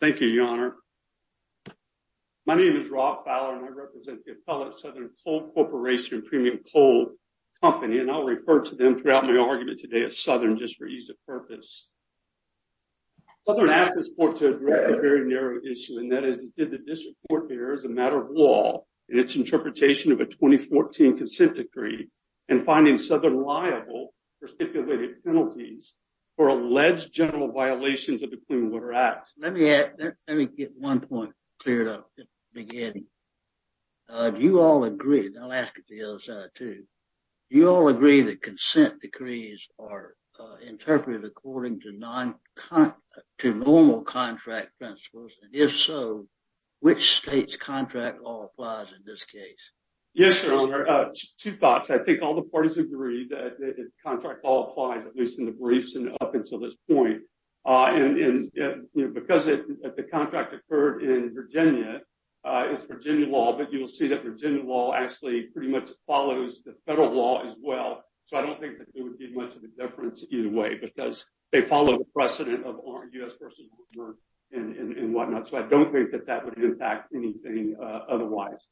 Thank you, Your Honor. My name is Rob Fowler, and I represent the appellate Southern Coal Corporation premium coal company, and I'll refer to them throughout my argument today as Southern just for ease of purpose. Southern asked this court to address a very narrow issue, and that is, did the district court bear as a matter of law in its interpretation of a 2014 consent decree in finding Southern liable for stipulated penalties for alleged general violations of Clean Water Acts? Let me get one point cleared up to begin. Do you all agree, and I'll ask it to the other side too, do you all agree that consent decrees are interpreted according to normal contract principles, and if so, which state's contract law applies in this case? Yes, Your Honor. Two thoughts. I think all the parties agree that contract law applies, at least in the briefs and up until this point, and because the contract occurred in Virginia, it's Virginia law, but you will see that Virginia law actually pretty much follows the federal law as well, so I don't think that there would be much of a difference either way because they follow the precedent of U.S. v. North America and whatnot, so I don't think that that would impact anything otherwise.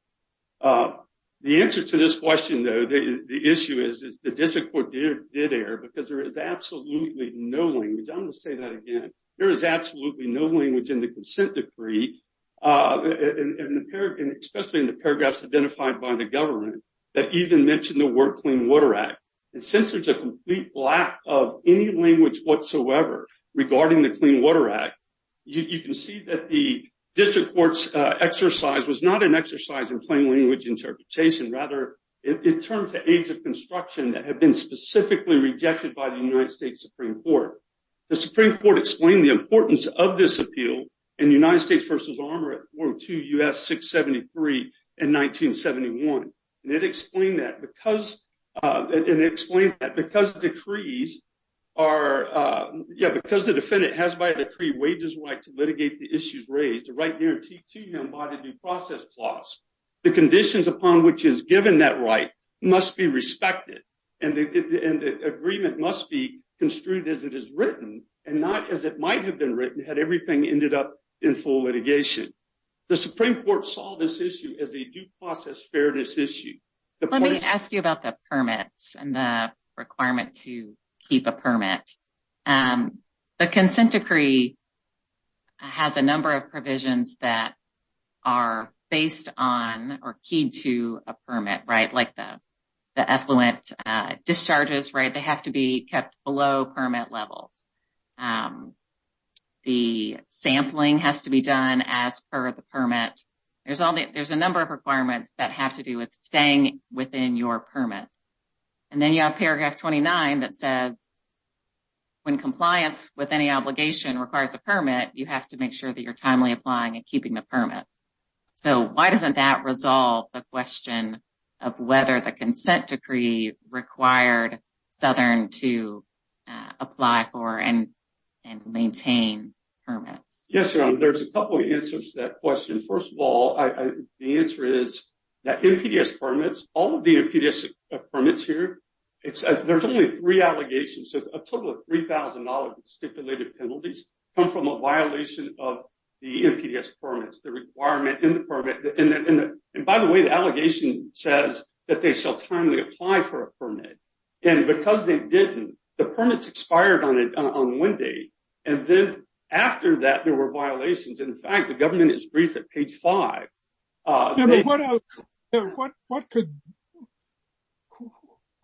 The answer to this question, though, the issue is, is the district did err because there is absolutely no language, I'm going to say that again, there is absolutely no language in the consent decree, especially in the paragraphs identified by the government, that even mention the word Clean Water Act, and since there's a complete lack of any language whatsoever regarding the Clean Water Act, you can see that the district court's exercise was not an exercise in plain language interpretation, rather in terms of age of construction that have been specifically rejected by the United States Supreme Court. The Supreme Court explained the importance of this appeal in United States v. Armour at 402 U.S. 673 in 1971, and it explained that because, and explained that because decrees are, yeah, because the defendant has by decree wages right to litigate the issues raised, the right guarantee to him by the due process clause, the conditions upon which is given that right must be respected, and the agreement must be construed as it is written, and not as it might have been written had everything ended up in full litigation. The Supreme Court saw this issue as a due process fairness issue. Let me ask you about the permits and the requirement to keep a permit. The consent decree has a number of provisions that are based on or keyed to a permit, right, like the the effluent discharges, right, they have to be kept below permit levels. The sampling has to be done as per the permit. There's all the, there's a number of requirements that have to do with staying within your permit, and then you have paragraph 29 that says when compliance with any obligation requires a permit, you have to make sure that you're timely applying and keeping the permits. So, why doesn't that resolve the question of whether the consent decree required Southern to apply for and maintain permits? Yes, there's a couple of answers to that question. First of all, the answer is that NPDES permits, all of the NPDES permits here, there's only three allegations, so a total of $3,000 stipulated penalties come from a violation of the NPDES permits, the requirement in the permit, and by the way, the allegation says that they shall timely apply for a permit, and because they didn't, the permits expired on one day, and then after that there were violations. In fact, the government is briefed at page five. What could,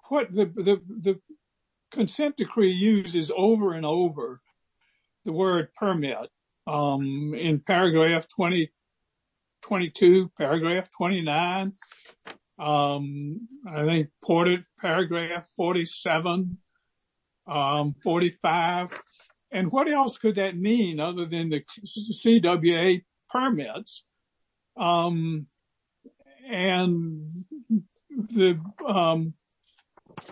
what the consent decree uses over and over, the word permit, in paragraph 20, 22, paragraph 29, I think part of paragraph 47, 45, and what else could that mean other than the CWA permits? And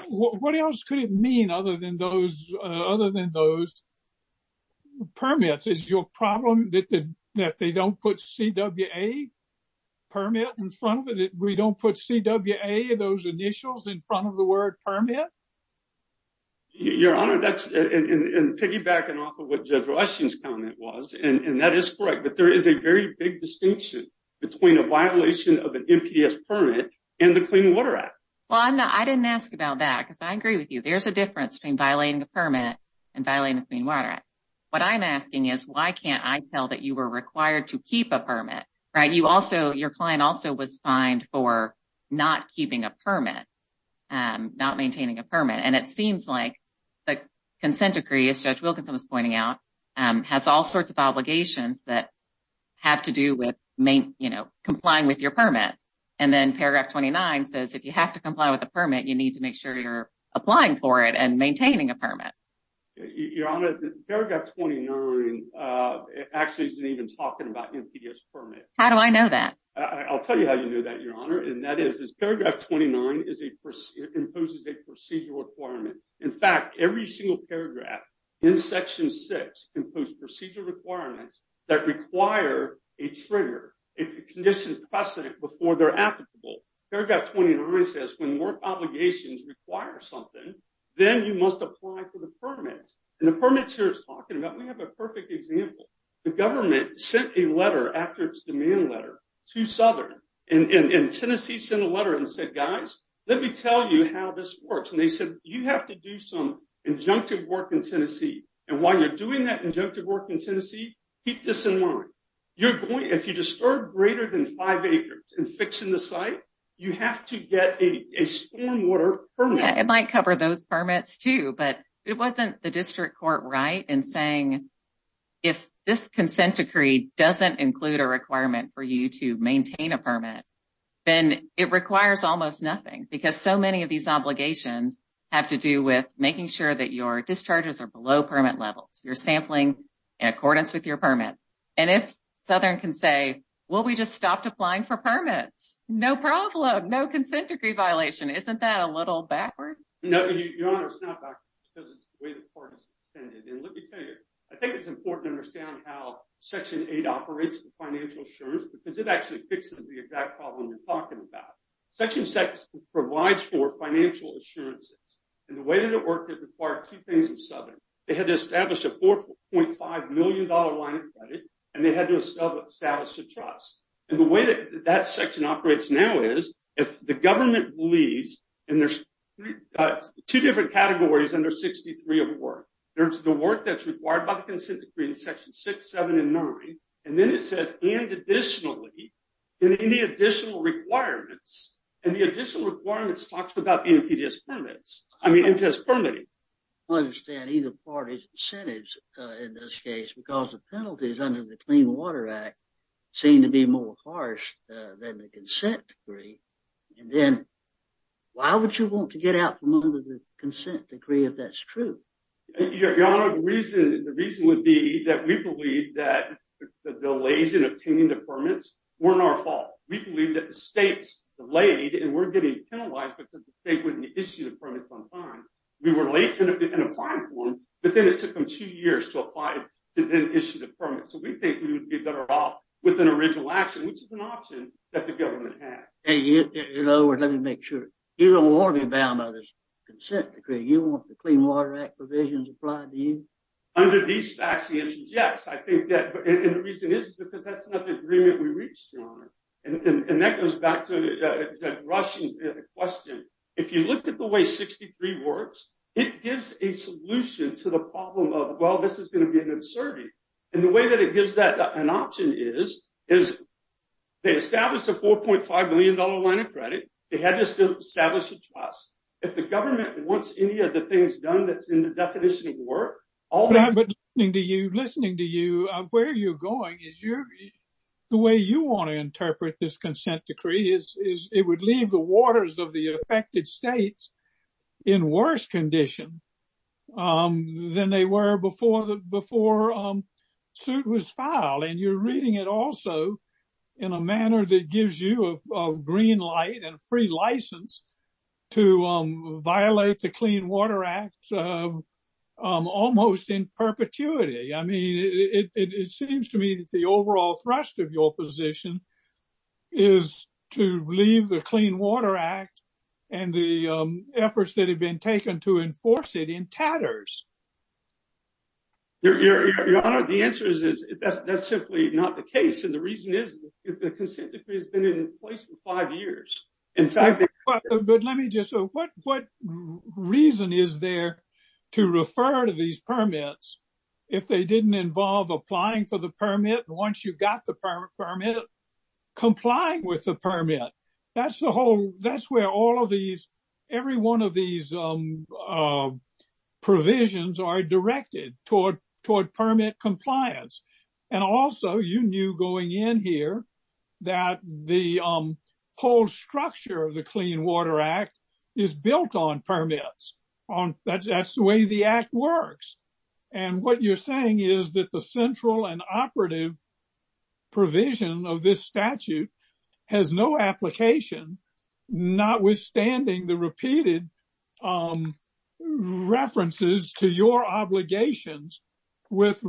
what else could it mean other than those permits? Is your problem that they don't put CWA permit in front of it? We don't put CWA, those initials in front of the word permit? Your Honor, that's, and piggybacking off of what Judge Rushing's comment was, and that is correct, but there is a very big distinction between a violation of an NPDES permit and the Clean Water Act. Well, I'm not, I didn't ask about that, because I agree with you, there's a difference between violating a permit and violating the Clean Water Act. What I'm asking is why can't I tell that you were required to keep a permit, right? You also, your client also was fined for not keeping a permit, not maintaining a permit, and it seems like the consent decree, as Judge Wilkinson was pointing out, has all sorts of obligations that have to do with, you know, complying with your permit, and then paragraph 29 says if you have to comply with a permit, you need to make sure you're applying for it and maintaining a permit. Your Honor, paragraph 29 actually isn't even talking about NPDES permit. How do I know that? I'll tell you how you knew that, Your Honor, and that is, paragraph 29 is a procedure, imposes a procedure requirement. In fact, every single paragraph in section 6 impose procedure requirements that require a trigger, a condition precedent before they're applicable. Paragraph 29 says when work obligations require something, then you must apply for the permits, and the permits here is talking about, we have a perfect example. The government sent a letter after its demand letter to Southern, and Tennessee sent a letter and said, guys, let me tell you how this works, and they said, you have to do some injunctive work in Tennessee, and while you're doing that injunctive work in Tennessee, keep this in mind. You're going, if you disturb greater than five acres and fixing the site, you have to get a stormwater permit. Yeah, it might cover those permits too, but it wasn't the district court right in saying if this consent decree doesn't include a requirement for you to maintain a permit, then it requires almost nothing, because so many of these obligations have to do with making sure that your discharges are below permit levels. You're sampling in accordance with your permit, and if Southern can say, well, we just stopped applying for permits, no problem, no consent decree violation. Isn't that a little backward? No, Your Honor, it's not backward, because it's the way the court is intended, and let me tell you, I think it's important to understand how Section 8 operates the financial assurance, because it actually fixes the exact problem you're talking about. Section 6 provides for financial assurances, and the way that it worked, it required two things from Southern. They had to establish a $4.5 million line of credit, and they had to establish a trust, and the way that that section operates now is, if the government believes, and there's two different categories under 63 of work, there's the work that's required by the consent decree in Section 6, 7, and 9, and then it says, and additionally, any additional requirements, and the additional requirements talks about NPDES permits, I mean NPDES permitting. I understand either party's incentives in this case, because the penalties under the Clean Water Act seem to be more harsh than the consent decree, and then why would you want to get out from under the consent decree if that's true? Your Honor, the reason would be that we believe that the delays in obtaining the permits weren't our fault. We believe that the state's delayed, and we're getting penalized, because the state wouldn't issue the permits on time. We were late in applying for them, but then it took them two years to apply to then issue the permit, so we think we would be better off with an original action, which is an option that the government had. In other words, let me make sure, you don't want to be bound by this consent decree. You want the Clean Water Act provisions applied to you? Under these facts, the answer is yes. I think that, and the reason is because that's not the agreement we reached, Your Honor, and that goes back to that rushing question. If you look at the way 63 works, it gives a solution to the problem of, well, this is going to be an absurdity, and the way that it gives that an option is they establish a $4.5 million line of credit. They had to establish a trust. If the government wants any of the things done that's in the definition of work, all that... But listening to you, where are you going? The way you want to interpret this consent decree is it would leave the waters of the affected states in worse condition than they were before the suit was filed, and you're reading it also in a manner that gives you a green light and free license to violate the Clean Water Act almost in perpetuity. I mean, it seems to me that the overall thrust of your position is to leave the Clean Water Act and the efforts that have been taken to enforce it in tatters. Your Honor, the answer is that's simply not the case, and the reason is that the consent decree has been in place for five years. In fact... But let me just... What reason is there to refer to these permits if they didn't involve applying for the permit, and once you got the permit, complying with the permit? That's where all of these... Every one of these provisions are directed toward permit compliance. Also, you knew going in here that the whole structure of the Clean Water Act is built on and operative provision of this statute has no application, notwithstanding the repeated references to your obligations with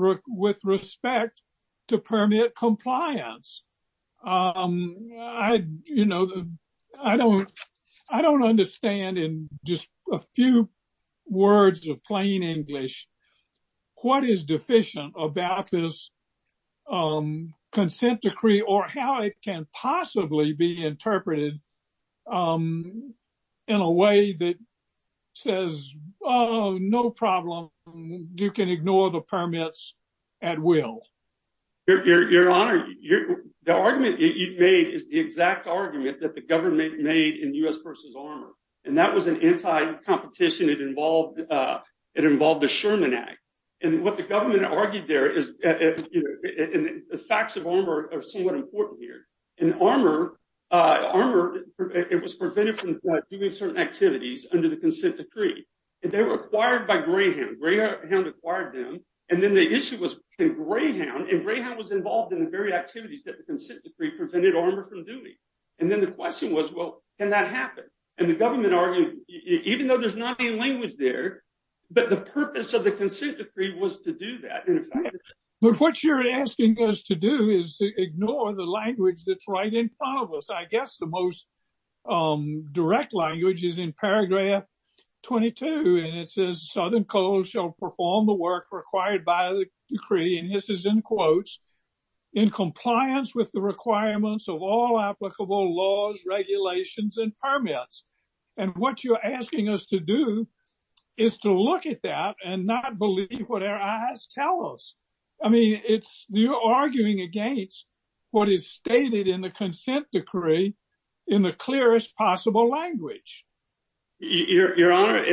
respect to permit compliance. I don't understand in just a few words of plain English what is deficient about this consent decree or how it can possibly be interpreted in a way that says, oh, no problem. You can ignore the permits at will. Your Honor, the argument you've made is the exact argument that the government made in U.S. v. Armour, and that was an anti-competition. It involved the Sherman Act, and what the government argued there is... The facts of Armour are somewhat important here. In Armour, it was prevented from doing certain activities under the consent decree, and they were acquired by Greyhound. Greyhound acquired them, and then the issue was can Greyhound... Greyhound was involved in the very activities that the consent decree prevented Armour from doing, and then the question was, well, can that happen? The government argued, even though there's not any language there, but the purpose of the consent decree was to do that. What you're asking us to do is to ignore the language that's right in front of us. I guess the most direct language is in paragraph 22, and it says, Southern Coal shall perform the work required by the decree, and this is in quotes, in compliance with the requirements of all applicable laws, regulations, and permits. What you're asking us to do is to look at that and not believe what tell us. I mean, you're arguing against what is stated in the consent decree in the clearest possible language. Your Honor,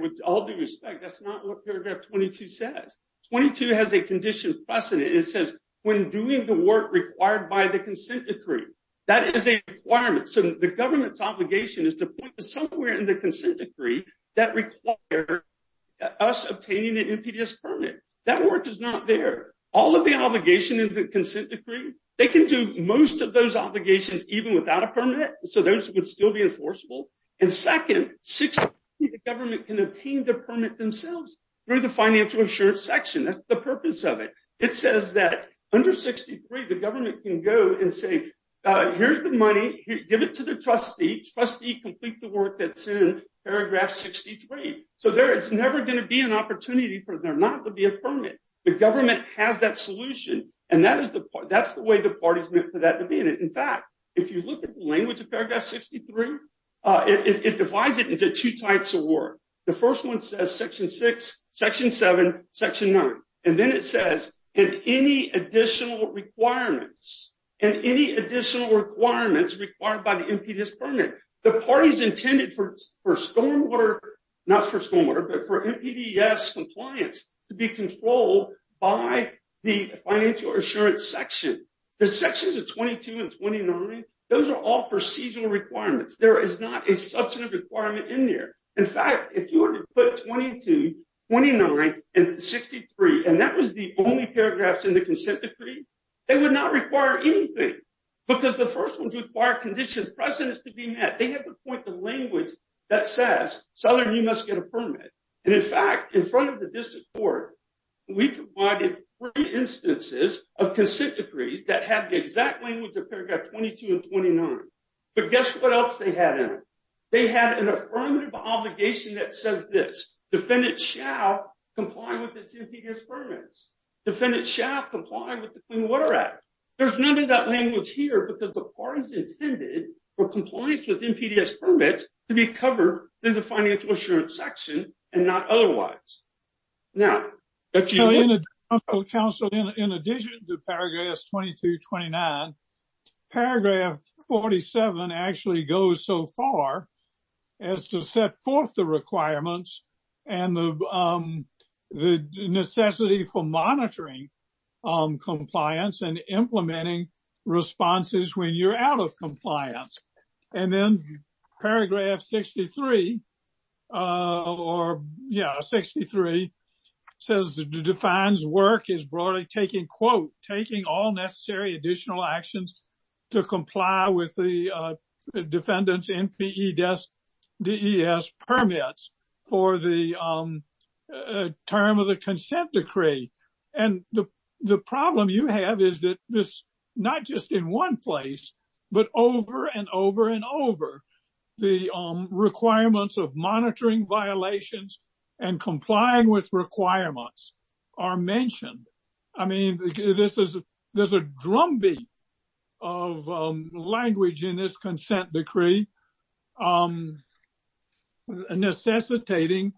with all due respect, that's not what paragraph 22 says. 22 has a condition precedent. It says, when doing the work required by the consent decree, that is a requirement. The government's obligation is to point to somewhere in the consent decree that require us obtaining the NPDES permit. That work is not there. All of the obligation in the consent decree, they can do most of those obligations even without a permit, so those would still be enforceable, and second, 63, the government can obtain the permit themselves through the financial insurance section. That's the purpose of it. It says that under 63, the government can go and say, here's the money. Give it to the trustee. Trustee, complete the work that's in paragraph 63. So there is never going to be an opportunity for there not to be a permit. The government has that solution, and that's the way the party's meant for that to be. In fact, if you look at the language of paragraph 63, it divides it into two types of work. The first one says section six, section seven, section nine, and then it says, in any additional requirements, and any additional requirements required by the NPDES permit, the party's intended for stormwater, not for stormwater, but for NPDES compliance to be controlled by the financial insurance section. The sections of 22 and 29, those are all procedural requirements. There is not a substantive requirement in there. In fact, if you were to put 22, 29, and 63, and that was the only anything, because the first one required conditions, precedents to be met. They have to point the language that says, seller, you must get a permit. And in fact, in front of the district court, we provided three instances of consent decrees that have the exact language of paragraph 22 and 29. But guess what else they had in it? They had an affirmative obligation that says this, defendant shall comply with the NPDES permits. Defendant shall comply with the Clean Water Act. There's none of that language here because the party's intended for compliance with NPDES permits to be covered through the financial insurance section and not otherwise. Now, if you- So council, in addition to paragraph 22, 29, paragraph 47 actually goes so far as to set forth requirements and the necessity for monitoring compliance and implementing responses when you're out of compliance. And then paragraph 63, or yeah, 63, says, defines work as broadly taking, quote, for the term of the consent decree. And the problem you have is that this not just in one place, but over and over and over, the requirements of monitoring violations and complying with requirements are mentioned. I mean, this is, there's a drumbeat of language in this consent decree necessitating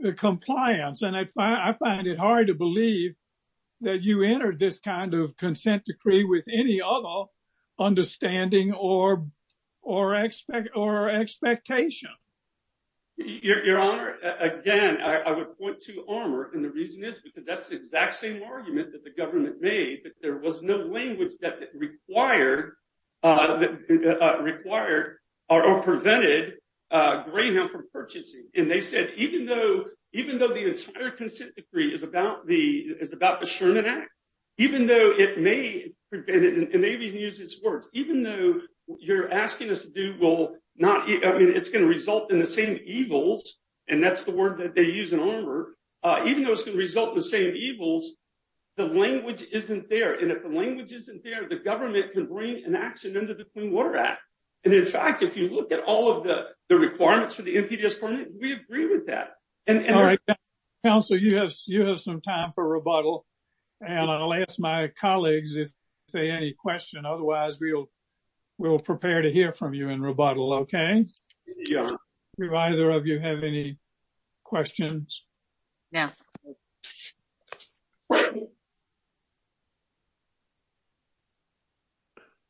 the compliance. And I find it hard to believe that you entered this kind of consent decree with any other understanding or expectation. Your Honor, again, I would point to Armour. And the reason is because that's the exact same argument that the government made, that there was no language that required or prevented Greyhound from purchasing. And they said, even though the entire consent decree is about the Sherman Act, even though it may prevent it, and maybe you can use these words, even though you're asking us to do, well, not, I mean, it's going to result in the same evils. And that's the word that they use in Armour. Even though it's going to result in the same evils, the language isn't there. And if the language isn't there, the government can bring an action under the Clean Water Act. And in fact, if you look at all of the requirements for the NPDS permit, we agree with that. All right, counsel, you have some time for rebuttal. And I'll ask my colleagues if they have any questions. Otherwise, we'll prepare to hear from you in rebuttal, okay? Do either of you have any questions? No.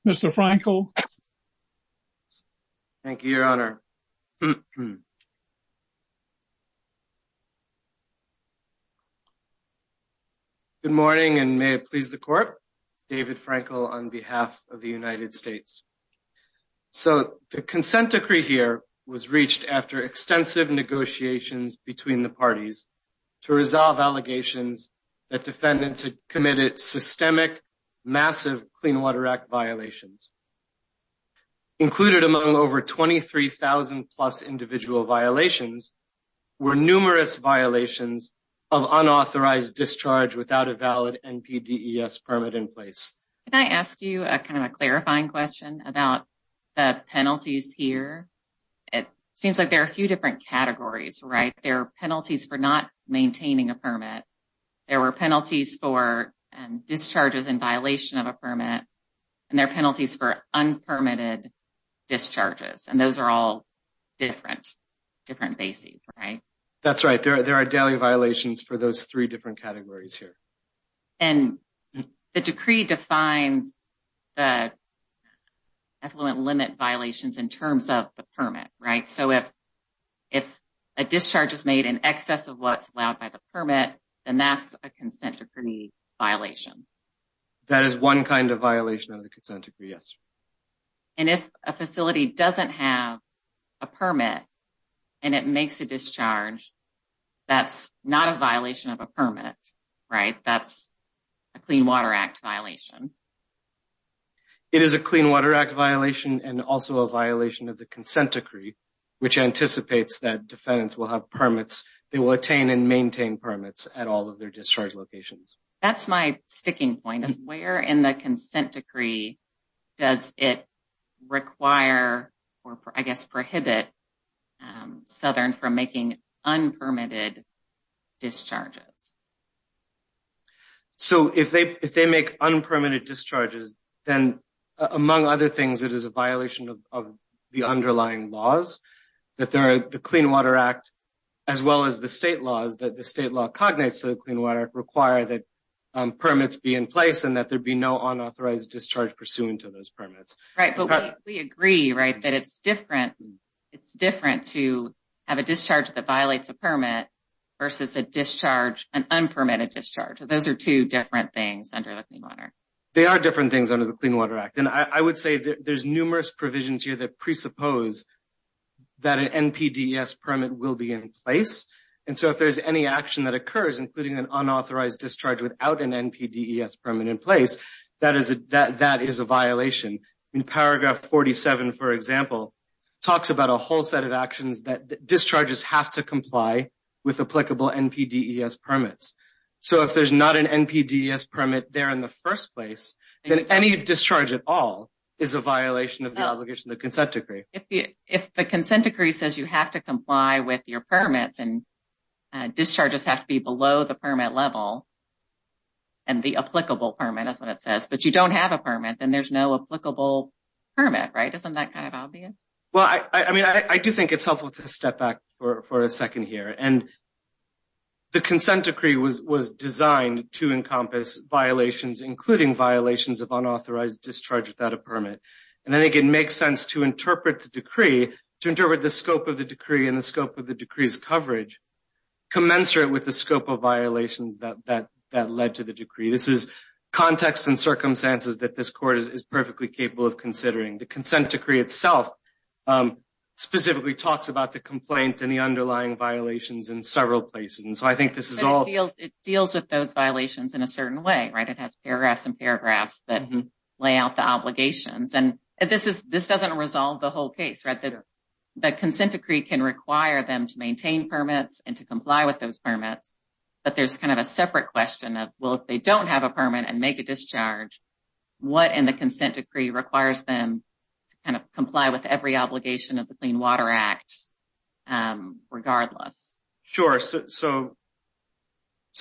Mr. Frankel? Thank you, Your Honor. Good morning, and may it please the court. David Frankel on behalf of the United States. So the consent decree here was reached after extensive negotiations between the parties to resolve allegations that defendants had committed systemic, massive Clean Water Act violations. Included among over 23,000 plus individual violations were numerous violations of unauthorized discharge without a valid NPDES permit in place. Can I ask you a kind of a clarifying question about the penalties here? It seems like there are a few different categories, right? There are penalties for not maintaining a permit. There were penalties for discharges in violation of a permit, and there are penalties for unpermitted discharges. And those are all different bases, right? That's right. There are daily violations for those three different categories here. And the decree defines the affluent limit violations in terms of the permit, right? So if a discharge is made in excess of what's allowed by the permit, then that's a consent decree violation. That is one kind of violation of the consent decree, yes. And if a facility doesn't have a permit and it makes a discharge, that's not a violation of a Clean Water Act violation. It is a Clean Water Act violation and also a violation of the consent decree, which anticipates that defendants will have permits. They will attain and maintain permits at all of their discharge locations. That's my sticking point, is where in the consent decree does it require or, I guess, prohibit Southern from making unpermitted discharges? So if they make unpermitted discharges, then, among other things, it is a violation of the underlying laws. The Clean Water Act, as well as the state laws that the state law cognates to the Clean Water Act, require that permits be in place and that there be no unauthorized discharge pursuant to those permits. Right, but we agree, right, it's different to have a discharge that violates a permit versus a discharge, an unpermitted discharge. So those are two different things under the Clean Water Act. They are different things under the Clean Water Act. And I would say there's numerous provisions here that presuppose that an NPDES permit will be in place. And so if there's any action that occurs, including an unauthorized discharge without an NPDES permit in place, that is a violation. Paragraph 47, for example, talks about a whole set of actions that discharges have to comply with applicable NPDES permits. So if there's not an NPDES permit there in the first place, then any discharge at all is a violation of the obligation of the consent decree. If the consent decree says you have to comply with your permits and discharges have to be below the permit level and the applicable permit, that's what it says, but you don't have a permit, then there's no applicable permit, right? Isn't that kind of obvious? Well, I mean, I do think it's helpful to step back for a second here. And the consent decree was designed to encompass violations, including violations of unauthorized discharge without a permit. And I think it makes sense to interpret the decree, to interpret the scope of the decree and the scope of the decree's coverage, commensurate with the scope of violations that led to the decree. This is context and circumstances that this court is perfectly capable of considering. The consent decree itself specifically talks about the complaint and the underlying violations in several places. And so I think this is all... It deals with those violations in a certain way, right? It has paragraphs and paragraphs that lay out the to maintain permits and to comply with those permits. But there's kind of a separate question of, well, if they don't have a permit and make a discharge, what in the consent decree requires them to kind of comply with every obligation of the Clean Water Act, regardless? Sure. So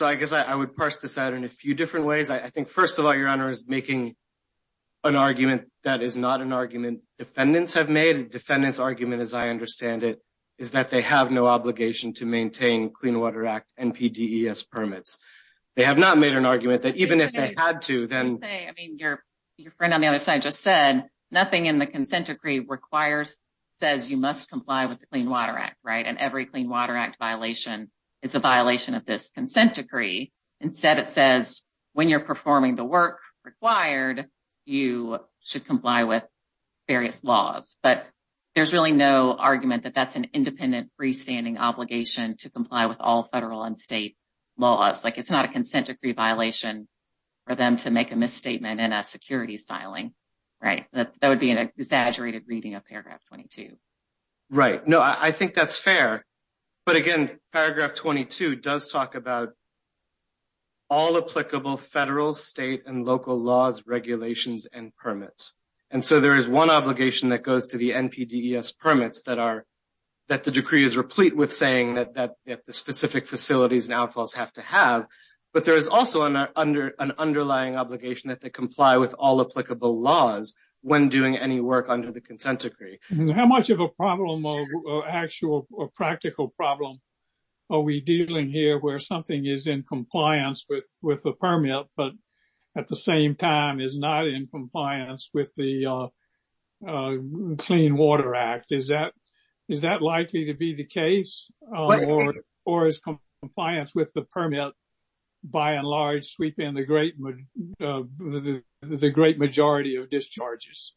I guess I would parse this out in a few different ways. I think, first of all, Your Honor, is making an argument that is not an argument defendants have made. A defendant's they have no obligation to maintain Clean Water Act NPDES permits. They have not made an argument that even if they had to, then... I was going to say, I mean, your friend on the other side just said, nothing in the consent decree requires, says you must comply with the Clean Water Act, right? And every Clean Water Act violation is a violation of this consent decree. Instead, it says when you're performing the work required, you should comply with various laws. But there's really no argument that that's an independent, freestanding obligation to comply with all federal and state laws. Like it's not a consent decree violation for them to make a misstatement in a securities filing, right? That would be an exaggerated reading of paragraph 22. Right. No, I think that's fair. But again, paragraph 22 does talk about all applicable federal, state, and local laws, regulations, and permits. And so there is one obligation that goes to the NPDES permits that the decree is replete with saying that the specific facilities and outfalls have to have. But there is also an underlying obligation that they comply with all applicable laws when doing any work under the consent decree. How much of a problem or actual or practical problem are we dealing here where something is in compliance with the permit, but at the same time is not in compliance with the Clean Water Act? Is that likely to be the case? Or is compliance with the permit, by and large, sweeping the great majority of discharges?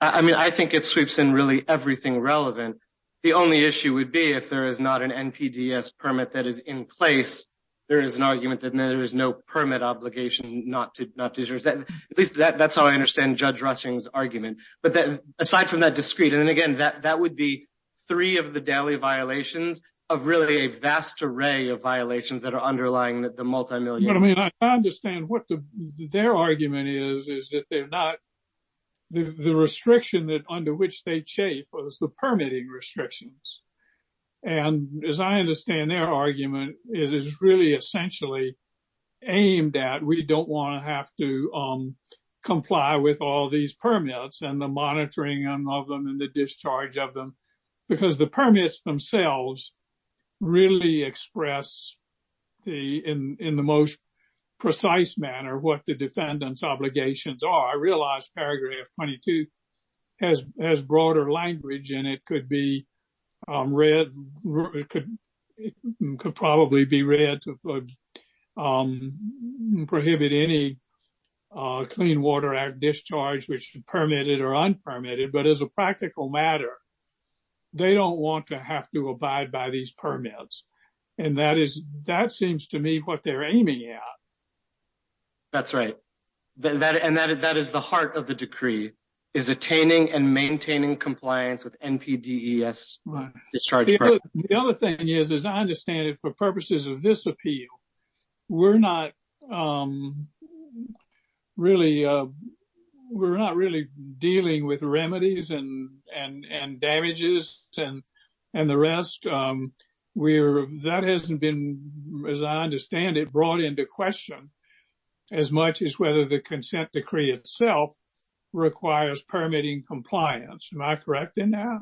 I mean, I think it sweeps in really everything relevant. The only issue would be if there is an NPDES permit that is in place, there is an argument that there is no permit obligation not to discharge. At least that's how I understand Judge Rushing's argument. But aside from that discrete, and again, that would be three of the daily violations of really a vast array of violations that are underlying the multimillion. I mean, I understand what their argument is, is that they're not the restriction that under which they chafe was the permitting restrictions. And as I understand their argument, it is really essentially aimed at we don't want to have to comply with all these permits and the monitoring of them and the discharge of them, because the permits themselves really express in the most precise manner what the defendant's read. It could probably be read to prohibit any Clean Water Act discharge, which permitted or unpermitted. But as a practical matter, they don't want to have to abide by these permits. And that seems to me what they're aiming at. That's right. And that is the heart of the decree, is attaining and maintaining compliance with NPDES. The other thing is, as I understand it, for purposes of this appeal, we're not really dealing with remedies and damages and the rest. That hasn't been, as I understand it, brought into question as much as whether the consent decree itself requires permitting compliance. Am I correct in that?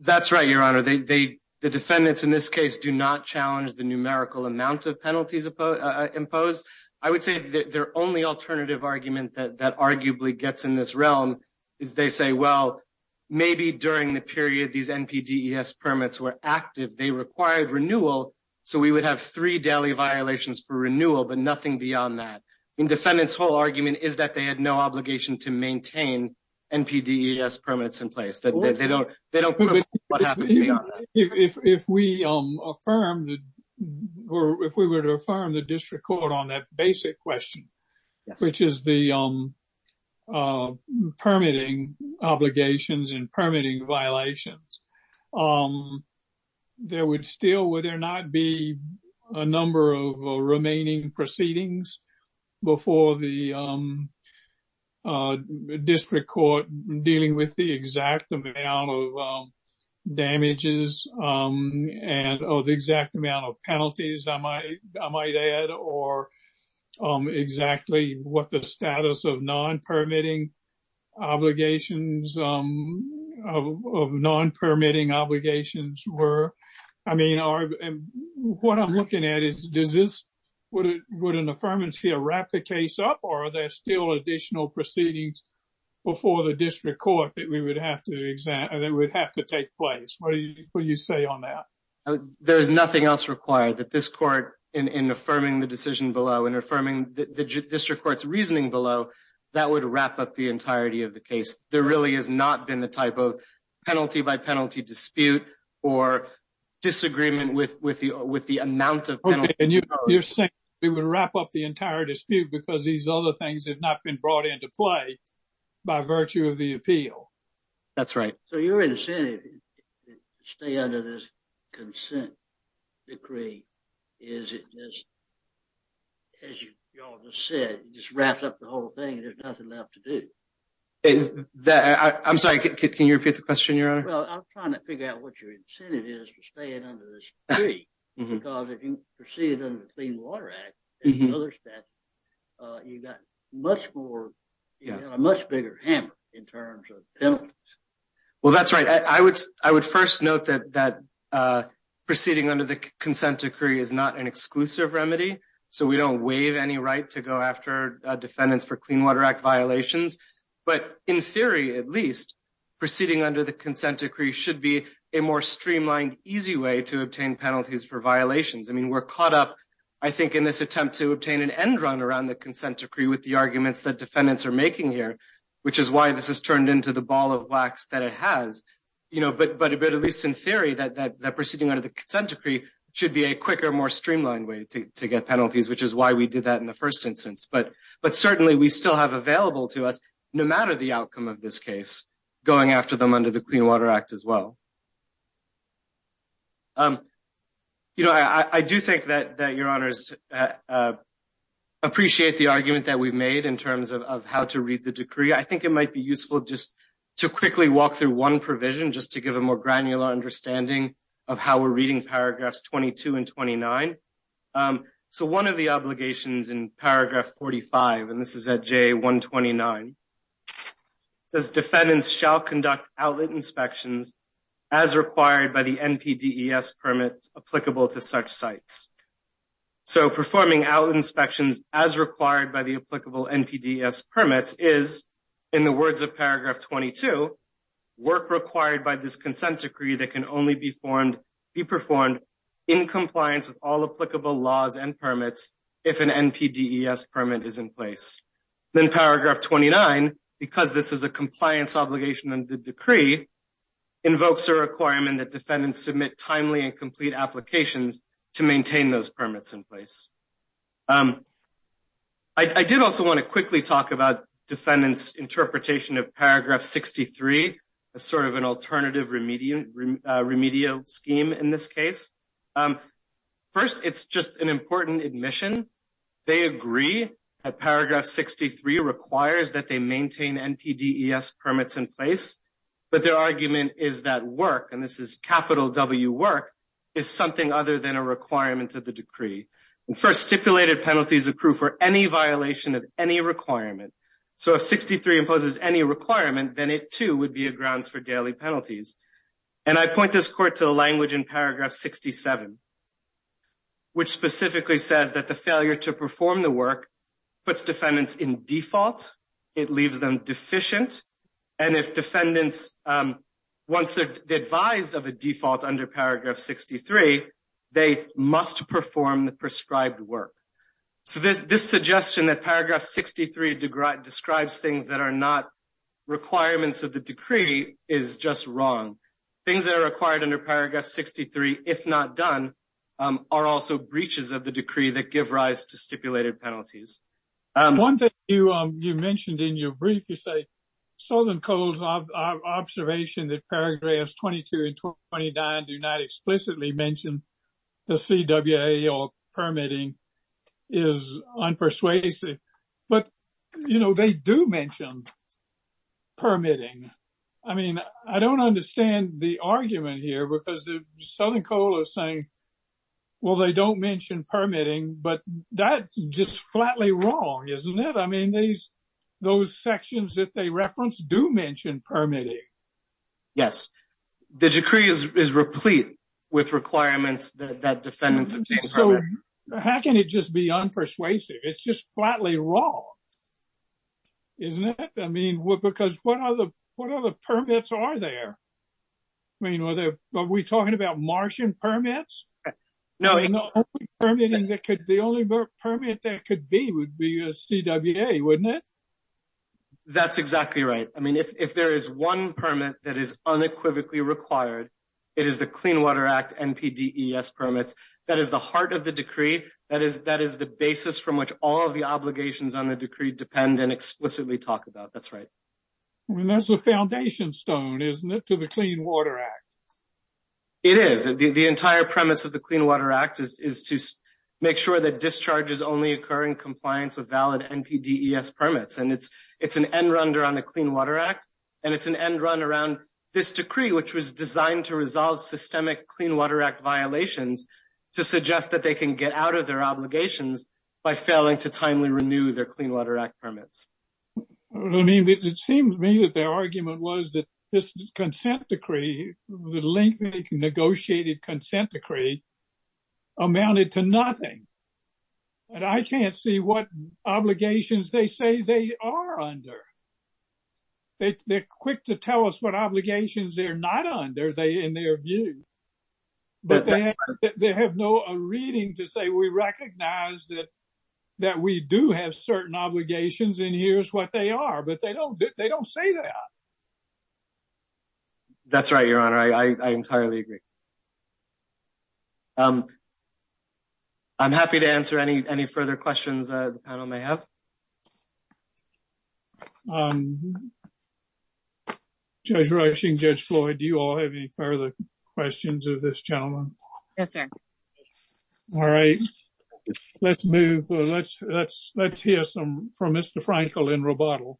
That's right, Your Honor. The defendants in this case do not challenge the numerical amount of penalties imposed. I would say their only alternative argument that arguably gets in this realm is they say, well, maybe during the period these NPDES permits were active, they required renewal. So we would have three daily violations for renewal, but nothing beyond that. The defendant's whole argument is that they had no obligation to maintain NPDES permits in place. They don't care what happens beyond that. If we were to affirm the district court on that basic question, which is the permitting obligations and permitting violations, there would still, would there not be a number of remaining proceedings before the district court dealing with the exact amount of damages and the exact amount of penalties, I might add, or exactly what the status of non-permitting obligations were? What I'm looking at is, would an affirmance here wrap the case up or are there still additional proceedings before the district court that would have to take place? What do you say on that? There is nothing else required that this court, in affirming the decision below and affirming the district court's reasoning below, that would wrap up the entirety of the case. There really has not been the type of penalty-by-penalty dispute or disagreement with the amount of penalties imposed. Okay, and you're saying it would wrap up the entire dispute because these other things have not been brought into play by virtue of the appeal? That's right. So you're saying that the incentive to stay under this consent decree is, as you all just said, just wraps up the whole thing and there's nothing left to do. I'm sorry, can you repeat the question, Your Honor? Well, I'm trying to figure out what your incentive is to stay under this decree, because if you proceeded under the Clean Water Act and other statutes, you got a much bigger hammer in terms of penalties. Well, that's right. I would first note that proceeding under the consent decree is not an exclusive remedy, so we don't waive any right to go after defendants for Clean Water Act violations, but in theory, at least, proceeding under the consent decree should be a more streamlined, easy way to obtain penalties for violations. I mean, we're caught up, I think, in this attempt to obtain an end run around the consent decree with the arguments that defendants are making here, which is why this has turned into the ball of wax that it has, but at least in theory, that proceeding under the consent decree should be a quicker, more streamlined way to get penalties, which is why we did that in the first instance. But certainly, we still have available to us, no matter the outcome of this case, going after them under the Clean Water Act as well. I do think that Your Honors appreciate the argument that we've made in terms of how to read the decree. I think it might be useful just to quickly walk through one provision, just to give a more granular understanding of how we're reading paragraphs 22 and 29. So one of the obligations in paragraph 45, and this is at J129, says defendants shall conduct outlet inspections as required by the NPDES permits applicable to such sites. So performing outlet inspections as required by the applicable NPDES permits is, in the words of paragraph 22, work required by this consent decree that can only be performed in compliance with all applicable laws and permits if an NPDES permit is in place. Then paragraph 29, because this is a compliance obligation under the decree, invokes a requirement that defendants submit timely and complete applications to maintain those permits in place. I did also want to quickly talk about defendants' interpretation of paragraph 63, a sort of an alternative remedial scheme in this case. First, it's just an important admission. They agree that paragraph 63 requires that they maintain NPDES permits in place, but their argument is that work, and this is capital W work, is something other than a requirement of the decree. And first, stipulated penalties accrue for any violation of any requirement. So if 63 imposes any requirement, then it too would be a grounds for daily penalties. And I point this court to the language in paragraph 67, which specifically says that the failure to perform the work puts defendants in default, it leaves them deficient, and if defendants, once they're advised of a default under paragraph 63, they must perform the prescribed work. So this suggestion that paragraph 63 describes things that are not requirements of the decree is just wrong. Things that are required under paragraph 63, if not done, are also breaches of the decree that give rise to stipulated penalties. One thing you mentioned in your brief, you say Southern Coal's observation that paragraphs 22 and 29 do not explicitly mention the CWA permitting is unpersuasive. But, you know, they do mention permitting. I mean, I don't understand the argument here because Southern Coal is flatly wrong, isn't it? I mean, those sections that they reference do mention permitting. Yes, the decree is replete with requirements that defendants obtain. So how can it just be unpersuasive? It's just flatly wrong. Isn't it? I mean, because what other permits are there? I mean, are we talking about Martian permits? The only permit that could be would be a CWA, wouldn't it? That's exactly right. I mean, if there is one permit that is unequivocally required, it is the Clean Water Act NPDES permits. That is the heart of the decree. That is the basis from which all of the obligations on the decree depend and explicitly talk about. That's right. I mean, that's the foundation stone, isn't it, to the Clean Water Act? It is. The entire premise of the Clean Water Act is to make sure that discharges only occur in compliance with valid NPDES permits. And it's an end run around the Clean Water Act, and it's an end run around this decree, which was designed to resolve systemic Clean Water Act violations to suggest that they can get out of their obligations by failing to timely renew their Clean Water Act permits. I mean, it seems to me that their argument was that this consent decree, the lengthy negotiated consent decree amounted to nothing. And I can't see what obligations they say they are under. They're quick to tell us what obligations they're not under in their view. But they have no reading to say we recognize that we do have certain obligations, and here's what they are. But they don't say that. That's right, Your Honor. I entirely agree. I'm happy to answer any further questions that the panel may have. Judge Rauschen, Judge Floyd, do you all have any further questions of this gentleman? Yes, sir. All right. Let's move. Let's hear some from Mr. Frankel in Roboto.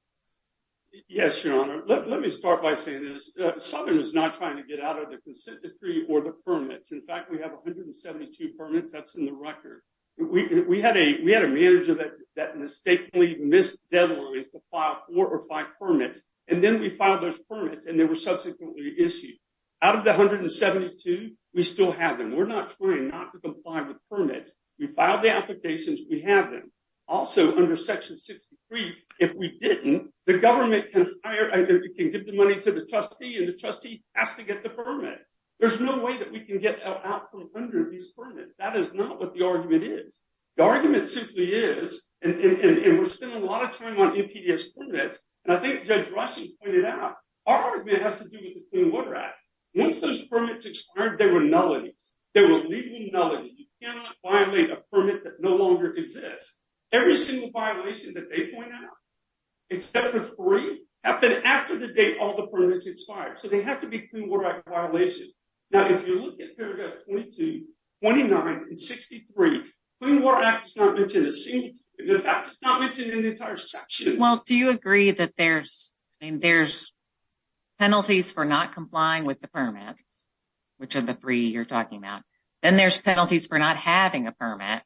Yes, Your Honor. Let me start by saying this. Southern is not trying to get out of the consent decree or the permits. In fact, we have 172 permits. That's in the record. We had a manager that mistakenly missed deadlines to file four or five permits. And then we filed those permits, and they were subsequently issued. Out of the 172, we still have them. We're not trying not to comply with permits. We filed the applications. We have them. Also, under Section 63, if we didn't, the government can give the money to the trustee, and the trustee has to get the permits. There's no way that we can get out from under these permits. That is not what the argument is. The argument simply is, and we're spending a lot of time on NPDES permits, and I think Judge Rushing pointed out, our argument has to do with the Clean Water Act. Once those permits expired, there were nullities. There were legal nullities. You cannot violate a permit that no longer exists. Every single violation that they point out, except for three, happened after the date all the permits expired. So they have to be Clean Water Act violations. Now, if you look at paragraphs 22, 29, and 63, the Clean Water Act does not mention a single thing. In fact, it's not mentioned in the entire section. Well, do you agree that there's penalties for not complying with the permits, which are the three you're talking about? Then there's penalties for not having a permit,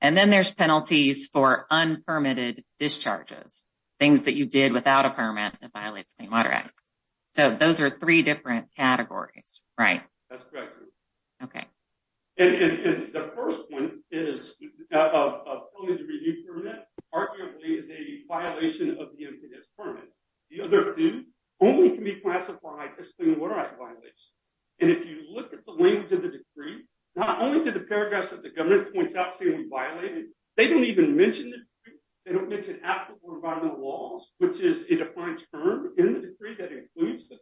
and then there's penalties for unpermitted discharges, things that you did without a permit that violates the Clean Water Act. So those are three different categories, right? That's correct. Okay. And the first one is a permit review permit, arguably, is a violation of the NPDES permits. The other two only can be classified as Clean Water Act violations. And if you look at the language of the decree, not only do the paragraphs that the government points out seem to be violated, they don't even mention the decree. They don't mention applicable environmental laws, which is a defined term in the decree that includes the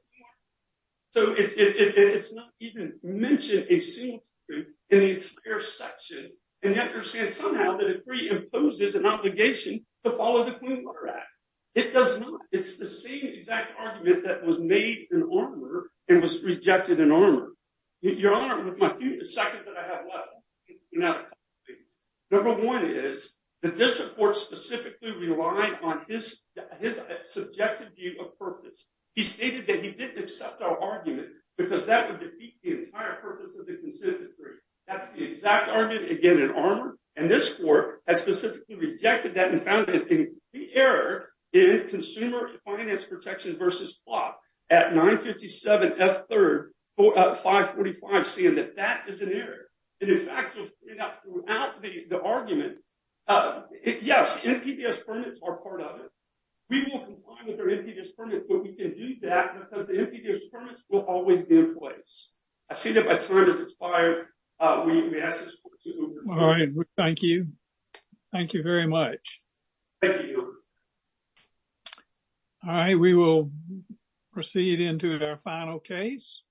mention a single thing in the entire section. And you have to understand somehow that the decree imposes an obligation to follow the Clean Water Act. It does not. It's the same exact argument that was made in armor and was rejected in armor. Your Honor, with my few seconds that I have left, number one is the district court specifically relied on his subjective view of purpose. He stated that he didn't accept our argument because that would defeat the entire purpose of the consent decree. That's the exact argument, again, in armor. And this court has specifically rejected that and found that the error in consumer finance protections versus plot at 957 F3, 545, seeing that that is an error. And in fact, throughout the argument, uh, yes, NPDES permits are part of it. We won't comply with our NPDES permits, but we can do that because the NPDES permits will always be in place. I see that my turn has expired. Uh, we may ask this court to adjourn. All right. Thank you. Thank you very much. Thank you. All right. We will proceed into our final case.